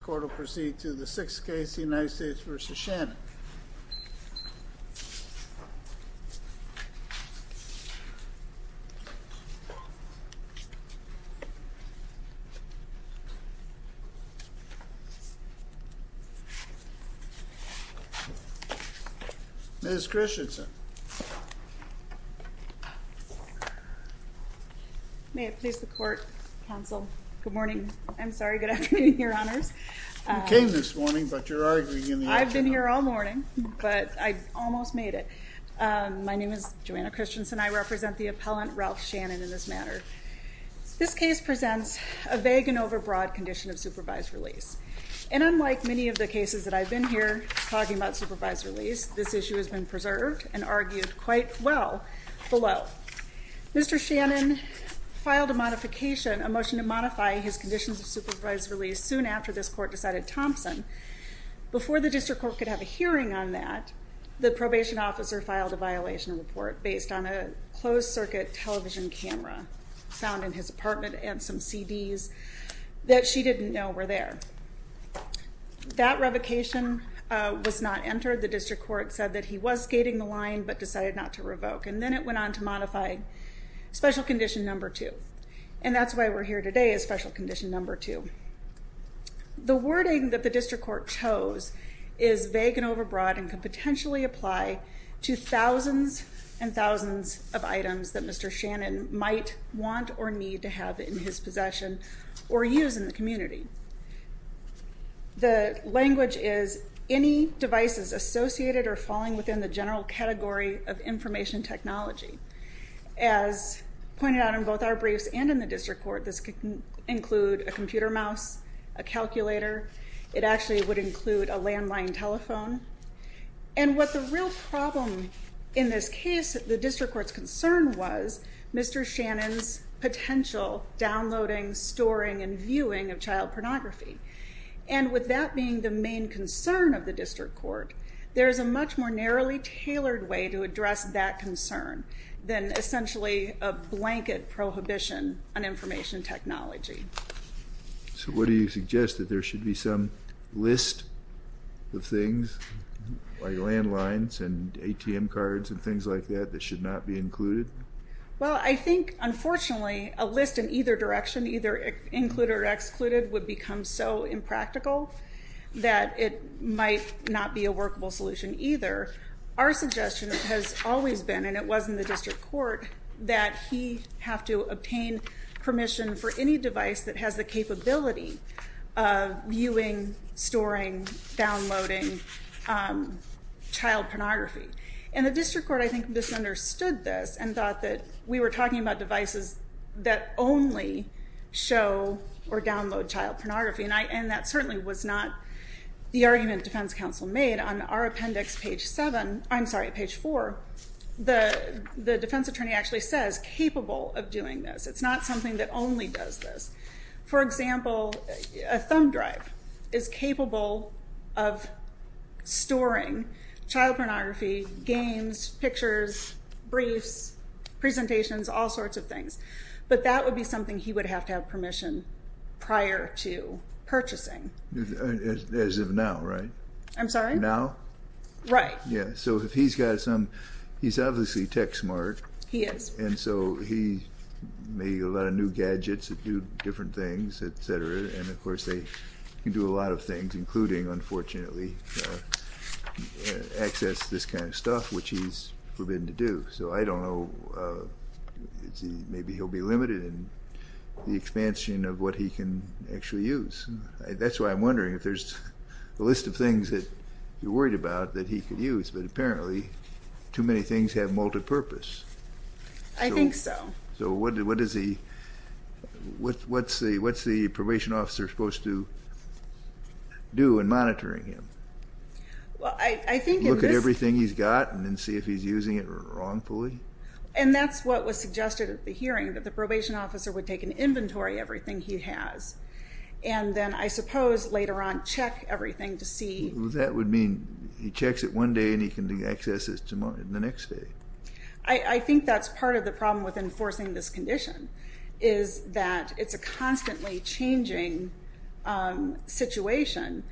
The court will proceed to the 6th case, United States v. Shannon. Ms. Christensen. May it please the court, counsel, good morning, I'm sorry, good afternoon, your honors. You came this morning, but you're arguing in the afternoon. I've been here all morning, but I almost made it. My name is Joanna Christensen. I represent the appellant, Ralph Shannon, in this matter. This case presents a vague and overbroad condition of supervised release. And unlike many of the cases that I've been here talking about supervised release, this issue has been preserved and argued quite well below. Mr. Shannon filed a modification, a motion to modify his conditions of supervised release soon after this court decided Thompson. Before the district court could have a hearing on that, the probation officer filed a violation report based on a closed circuit television camera found in his apartment and some CDs that she didn't know were there. That revocation was not entered. The district court said that he was skating the line but decided not to revoke. And then it went on to modify special condition number two. And that's why we're here today is special condition number two. The wording that the district court chose is vague and overbroad and could potentially apply to thousands and thousands of items that Mr. Shannon might want or need to have in his possession or use in the community. The language is any devices associated or falling within the general category of information technology. As pointed out in both our briefs and in the district court, this could include a computer mouse, a calculator. It actually would include a landline telephone. And what the real problem in this case, the district court's concern, was Mr. Shannon's potential downloading, storing, and viewing of child pornography. And with that being the main concern of the district court, there is a much more narrowly tailored way to address that concern than essentially a blanket prohibition on information technology. So what do you suggest? That there should be some list of things like landlines and ATM cards and things like that that should not be included? Well, I think, unfortunately, a list in either direction, either included or excluded, would become so impractical that it might not be a workable solution either. Our suggestion has always been, and it was in the district court, that he have to obtain permission for any device that has the capability of viewing, storing, downloading child pornography. And the district court, I think, misunderstood this and thought that we were talking about devices that only show or download child pornography. And that certainly was not the argument the defense counsel made. On our appendix, page 7, I'm sorry, page 4, the defense attorney actually says, capable of doing this. It's not something that only does this. For example, a thumb drive is capable of storing child pornography, games, pictures, briefs, presentations, all sorts of things. But that would be something he would have to have permission prior to purchasing. As of now, right? I'm sorry? Now? Right. Yeah, so if he's got some, he's obviously tech smart. He is. And so he made a lot of new gadgets that do different things, et cetera. And, of course, they can do a lot of things, including, unfortunately, access to this kind of stuff, which he's forbidden to do. So I don't know. Maybe he'll be limited in the expansion of what he can actually use. That's why I'm wondering if there's a list of things that you're worried about that he could use, but apparently too many things have multipurpose. I think so. So what's the probation officer supposed to do in monitoring him? Look at everything he's got and then see if he's using it wrongfully? And that's what was suggested at the hearing, that the probation officer would take an inventory of everything he has and then, I suppose, later on check everything to see. That would mean he checks it one day and he can access it the next day. I think that's part of the problem with enforcing this condition, is that it's a constantly changing situation.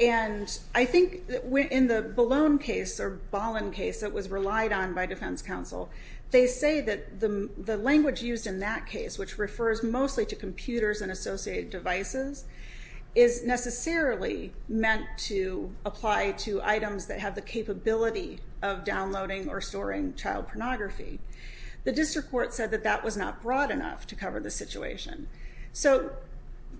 And I think in the Ballone case, or Ballon case, that was relied on by defense counsel, they say that the language used in that case, which refers mostly to computers and associated devices, is necessarily meant to apply to items that have the capability of downloading or storing child pornography. The district court said that that was not broad enough to cover the situation. So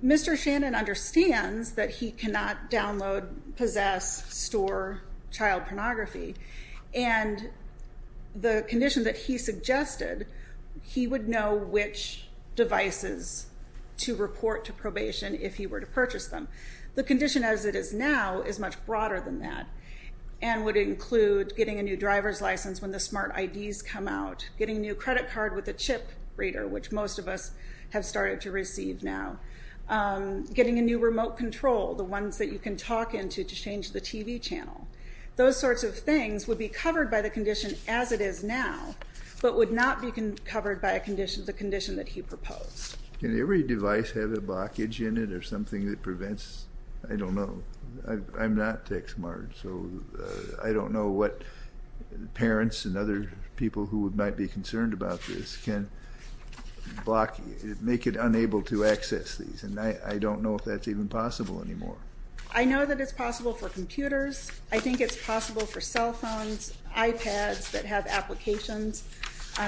Mr. Shannon understands that he cannot download, possess, store child pornography. And the condition that he suggested, he would know which devices to report to probation if he were to purchase them. The condition as it is now is much broader than that and would include getting a new driver's license when the smart IDs come out, getting a new credit card with a chip reader, which most of us have started to receive now, getting a new remote control, the ones that you can talk into to change the TV channel. Those sorts of things would be covered by the condition as it is now but would not be covered by the condition that he proposed. Can every device have a blockage in it or something that prevents? I don't know. I'm not tech smart, so I don't know what parents and other people who might be concerned about this can block, make it unable to access these. And I don't know if that's even possible anymore. I know that it's possible for computers. I think it's possible for cell phones, iPads, that have applications.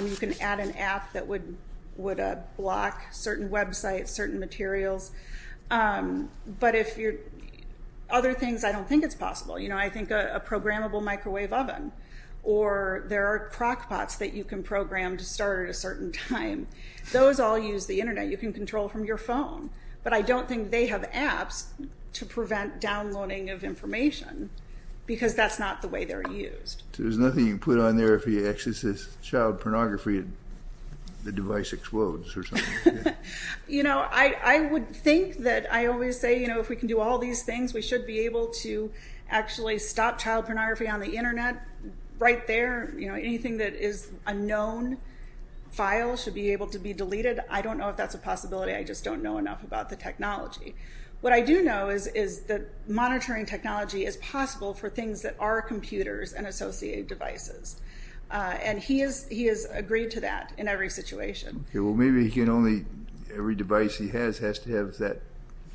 You can add an app that would block certain websites, certain materials. But other things, I don't think it's possible. I think a programmable microwave oven or there are crockpots that you can program to start at a certain time. Those all use the Internet. You can control from your phone. But I don't think they have apps to prevent downloading of information because that's not the way they're used. So there's nothing you can put on there if he accesses child pornography and the device explodes or something? I would think that I always say if we can do all these things, we should be able to actually stop child pornography on the Internet right there. Anything that is a known file should be able to be deleted. I don't know if that's a possibility. I just don't know enough about the technology. What I do know is that monitoring technology is possible for things that are computers and associated devices, and he has agreed to that in every situation. Well, maybe he can only, every device he has has to have that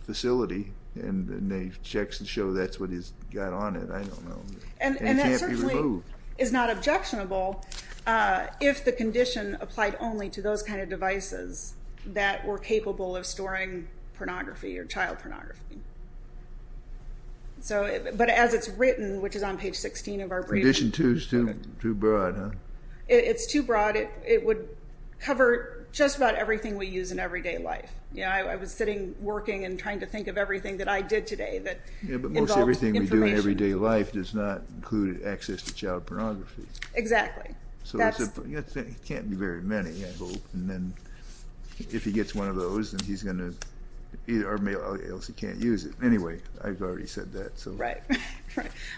facility and the checks show that's what he's got on it. I don't know. It can't be removed. And that certainly is not objectionable if the condition applied only to those kind of devices that were capable of storing pornography or child pornography. But as it's written, which is on page 16 of our briefing. Condition 2 is too broad, huh? It's too broad. It would cover just about everything we use in everyday life. I was sitting working and trying to think of everything that I did today that involved information. But most everything we do in everyday life does not include access to child pornography. Exactly. So it can't be very many, I hope. And if he gets one of those, he's going to, or else he can't use it. Anyway, I've already said that. Right.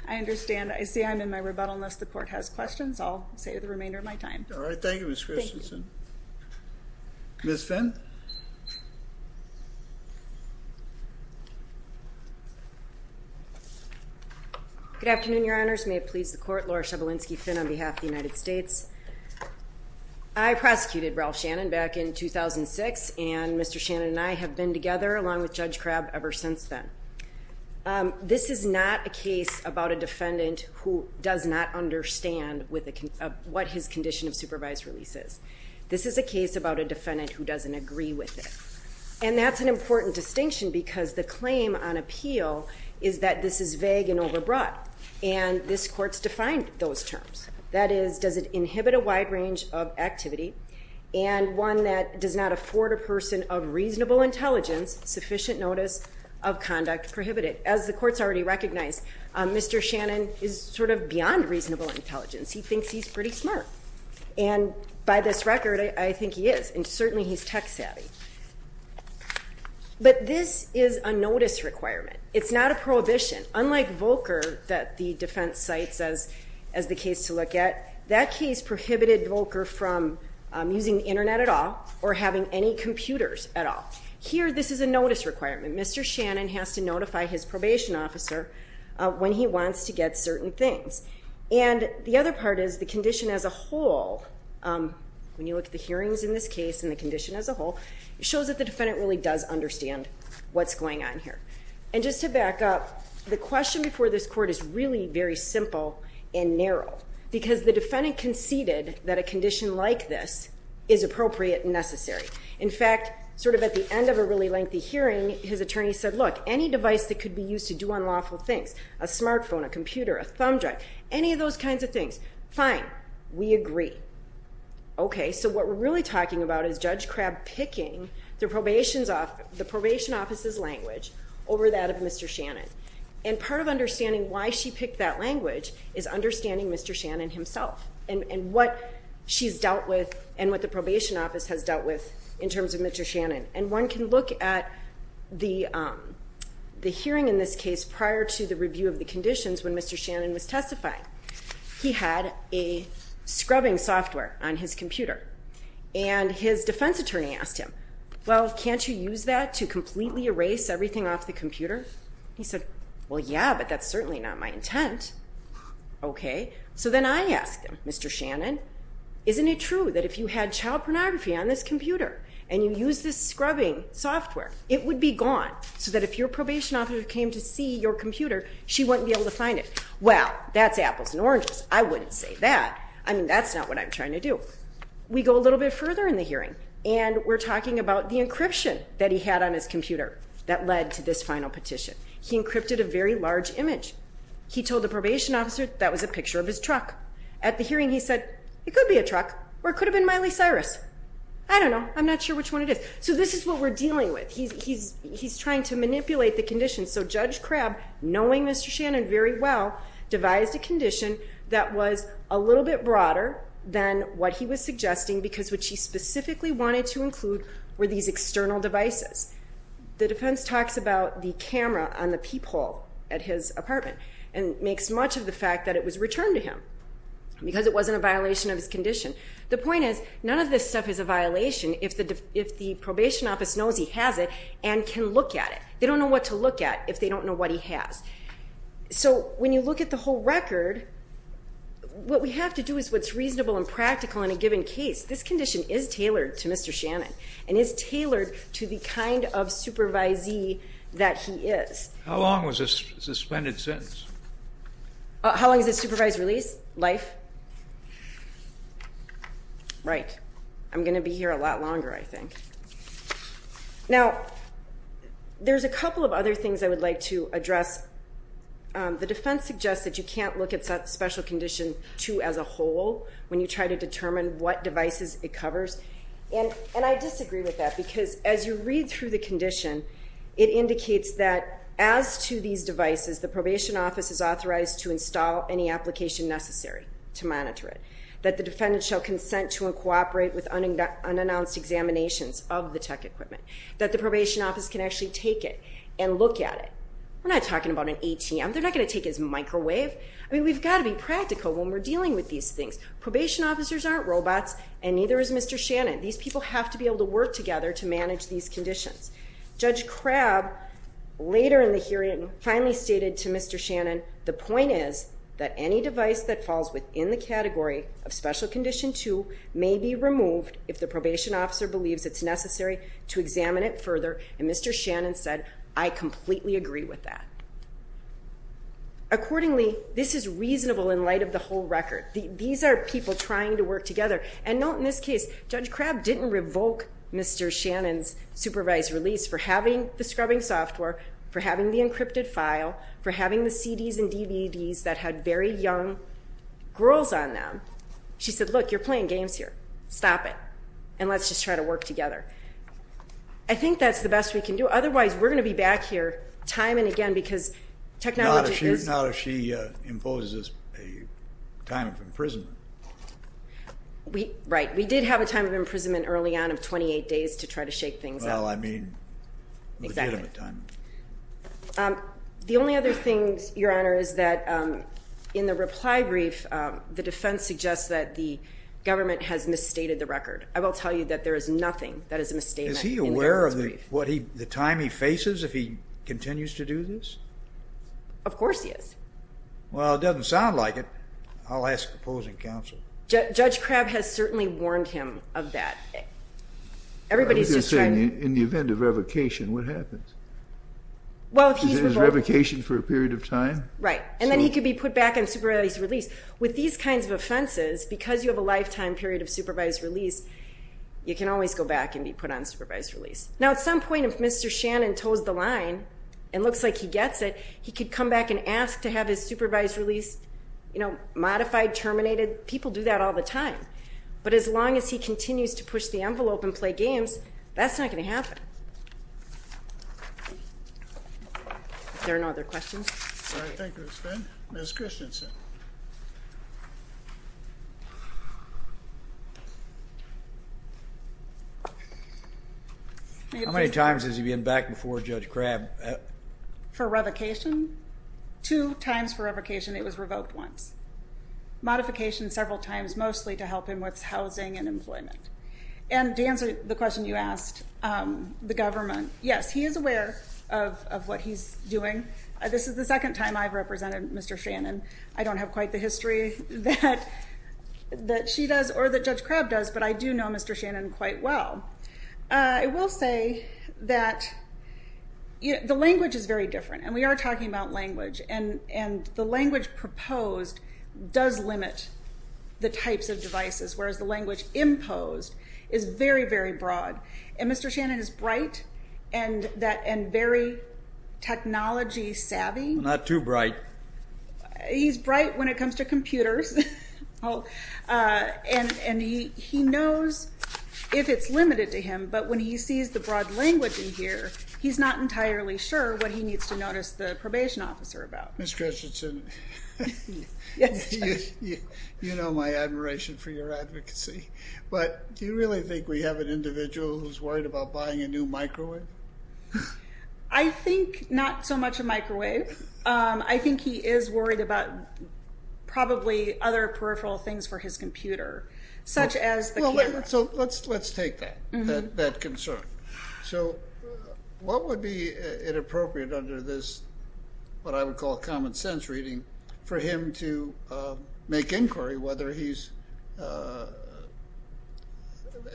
I understand. I see I'm in my rebuttal unless the Court has questions. I'll save the remainder of my time. All right. Thank you, Ms. Christensen. Ms. Finn. Good afternoon, Your Honors. May it please the Court. Laura Shebelinsky Finn on behalf of the United States. I prosecuted Ralph Shannon back in 2006, and Mr. Shannon and I have been together along with Judge Crabb ever since then. This is not a case about a defendant who does not understand what his condition of supervised release is. This is a case about a defendant who doesn't agree with it. And that's an important distinction because the claim on appeal is that this is vague and overbroad. And this Court's defined those terms. That is, does it inhibit a wide range of activity, and one that does not afford a person of reasonable intelligence sufficient notice of conduct prohibited. As the Court's already recognized, Mr. Shannon is sort of beyond reasonable intelligence. He thinks he's pretty smart. And by this record, I think he is. And certainly he's tech savvy. But this is a notice requirement. It's not a prohibition. Unlike Volcker that the defense cites as the case to look at, that case prohibited Volcker from using the Internet at all or having any computers at all. Here, this is a notice requirement. Mr. Shannon has to notify his probation officer when he wants to get certain things. And the other part is the condition as a whole, when you look at the hearings in this case and the condition as a whole, it shows that the defendant really does understand what's going on here. And just to back up, the question before this Court is really very simple and narrow because the defendant conceded that a condition like this is appropriate and necessary. In fact, sort of at the end of a really lengthy hearing, his attorney said, look, any device that could be used to do unlawful things, a smartphone, a computer, a thumb drive, any of those kinds of things, fine, we agree. Okay, so what we're really talking about is Judge Crabb picking the probation officer's language over that of Mr. Shannon. And part of understanding why she picked that language is understanding Mr. Shannon himself and what she's dealt with and what the probation office has dealt with in terms of Mr. Shannon. And one can look at the hearing in this case prior to the review of the conditions when Mr. Shannon was testifying. He had a scrubbing software on his computer. And his defense attorney asked him, well, can't you use that to completely erase everything off the computer? He said, well, yeah, but that's certainly not my intent. Okay, so then I asked him, Mr. Shannon, isn't it true that if you had child pornography on this computer and you used this scrubbing software, it would be gone so that if your probation officer came to see your computer, she wouldn't be able to find it? Well, that's apples and oranges. I wouldn't say that. I mean, that's not what I'm trying to do. We go a little bit further in the hearing, and we're talking about the encryption that he had on his computer that led to this final petition. He encrypted a very large image. He told the probation officer that was a picture of his truck. At the hearing he said, it could be a truck, or it could have been Miley Cyrus. I don't know. I'm not sure which one it is. So this is what we're dealing with. He's trying to manipulate the conditions. So Judge Crabb, knowing Mr. Shannon very well, devised a condition that was a little bit broader than what he was suggesting because what she specifically wanted to include were these external devices. The defense talks about the camera on the peephole at his apartment and makes much of the fact that it was returned to him because it wasn't a violation of his condition. The point is, none of this stuff is a violation if the probation office knows he has it and can look at it. They don't know what to look at if they don't know what he has. So when you look at the whole record, what we have to do is what's reasonable and practical in a given case. This condition is tailored to Mr. Shannon and is tailored to the kind of supervisee that he is. How long was the suspended sentence? How long is the supervised release? Life? Right. I'm going to be here a lot longer, I think. Now, there's a couple of other things I would like to address. The defense suggests that you can't look at special condition 2 as a whole when you try to determine what devices it covers, and I disagree with that because as you read through the condition, it indicates that as to these devices, the probation office is authorized to install any application necessary to monitor it, that the defendant shall consent to and cooperate with unannounced examinations of the tech equipment, that the probation office can actually take it and look at it. We're not talking about an ATM. They're not going to take it as a microwave. I mean, we've got to be practical when we're dealing with these things. Probation officers aren't robots, and neither is Mr. Shannon. These people have to be able to work together to manage these conditions. Judge Crabb, later in the hearing, finally stated to Mr. Shannon, the point is that any device that falls within the category of special condition 2 may be removed if the probation officer believes it's necessary to examine it further, and Mr. Shannon said, I completely agree with that. Accordingly, this is reasonable in light of the whole record. These are people trying to work together. And note in this case, Judge Crabb didn't revoke Mr. Shannon's supervised release for having the scrubbing software, for having the encrypted file, for having the CDs and DVDs that had very young girls on them. She said, look, you're playing games here. Stop it. And let's just try to work together. I think that's the best we can do. Otherwise, we're going to be back here time and again because technology is... Not if she imposes a time of imprisonment. Right. We did have a time of imprisonment early on of 28 days to try to shake things up. Well, I mean legitimate time. The only other thing, Your Honor, is that in the reply brief, the defense suggests that the government has misstated the record. I will tell you that there is nothing that is a misstatement in the reply brief. Is he aware of the time he faces if he continues to do this? Of course he is. Well, it doesn't sound like it. I'll ask opposing counsel. Judge Crabb has certainly warned him of that. I was just saying, in the event of revocation, what happens? Well, if he's revoked... Is there revocation for a period of time? Right. And then he could be put back on supervised release. With these kinds of offenses, because you have a lifetime period of supervised release, you can always go back and be put on supervised release. Now, at some point, if Mr. Shannon toes the line and looks like he gets it, he could come back and ask to have his supervised release modified, terminated. People do that all the time. But as long as he continues to push the envelope and play games, that's not going to happen. Are there no other questions? All right. Thank you, Ms. Finn. Ms. Christensen. How many times has he been back before Judge Crabb? For revocation? Two times for revocation. It was revoked once. Modification several times, mostly to help him with housing and employment. And to answer the question you asked, the government, yes, he is aware of what he's doing. This is the second time I've represented Mr. Shannon. I don't have quite the history that she does or that Judge Crabb does, but I do know Mr. Shannon quite well. I will say that the language is very different, and we are talking about language, and the language proposed does limit the types of devices, whereas the language imposed is very, very broad. And Mr. Shannon is bright and very technology savvy. Not too bright. He's bright when it comes to computers. And he knows if it's limited to him, but when he sees the broad language in here, he's not entirely sure what he needs to notice the probation officer about. Ms. Christensen, you know my admiration for your advocacy, but do you really think we have an individual who's worried about buying a new microwave? I think not so much a microwave. I think he is worried about probably other peripheral things for his computer, such as the camera. So let's take that concern. So what would be inappropriate under this, what I would call common sense reading, for him to make inquiry whether he's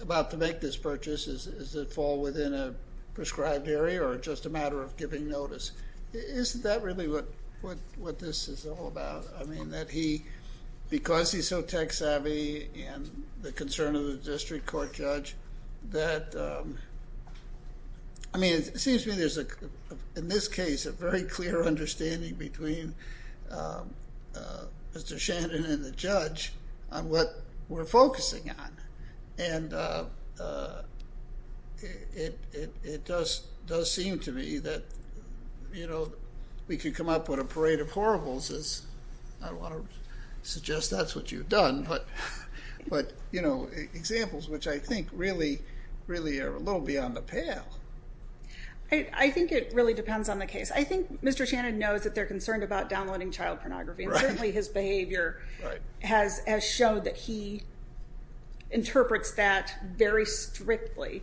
about to make this purchase? Does it fall within a prescribed area or just a matter of giving notice? Isn't that really what this is all about? I mean that he, because he's so tech savvy and the concern of the district court judge that, I mean it seems to me there's, in this case, a very clear understanding between Mr. Shannon and the judge on what we're focusing on. And it does seem to me that, you know, we could come up with a parade of horribles. I don't want to suggest that's what you've done, but, you know, examples which I think really are a little beyond the pale. I think it really depends on the case. I think Mr. Shannon knows that they're concerned about downloading child pornography. And certainly his behavior has showed that he interprets that very strictly.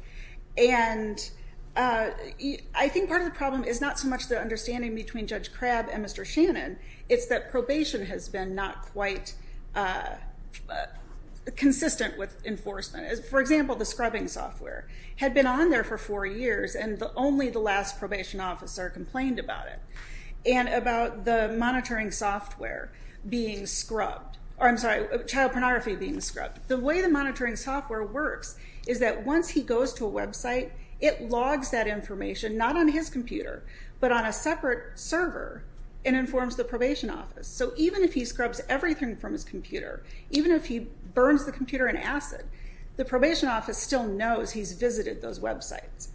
And I think part of the problem is not so much the understanding between Judge Crabb and Mr. Shannon. It's that probation has been not quite consistent with enforcement. For example, the scrubbing software had been on there for four years and only the last probation officer complained about it. And about the monitoring software being scrubbed. I'm sorry, child pornography being scrubbed. The way the monitoring software works is that once he goes to a website, it logs that information not on his computer, but on a separate server and informs the probation office. So even if he scrubs everything from his computer, even if he burns the computer in acid, the probation office still knows he's visited those websites.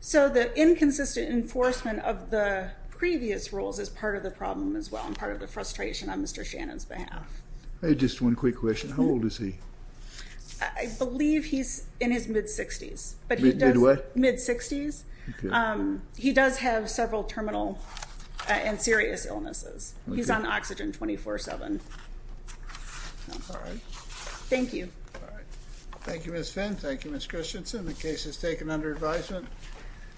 So the inconsistent enforcement of the previous rules is part of the problem as well and part of the frustration on Mr. Shannon's behalf. Just one quick question. How old is he? I believe he's in his mid-60s. Mid what? Mid-60s. He does have several terminal and serious illnesses. He's on oxygen 24-7. All right. Thank you. Thank you, Ms. Finn. Thank you, Ms. Christensen. The case is taken under advisement.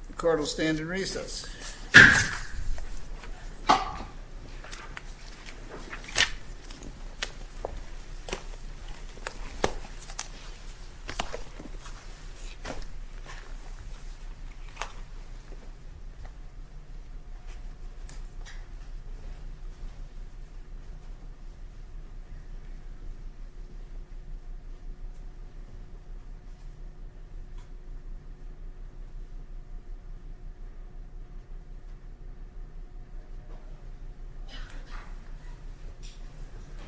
The court will stand in recess. Thank you.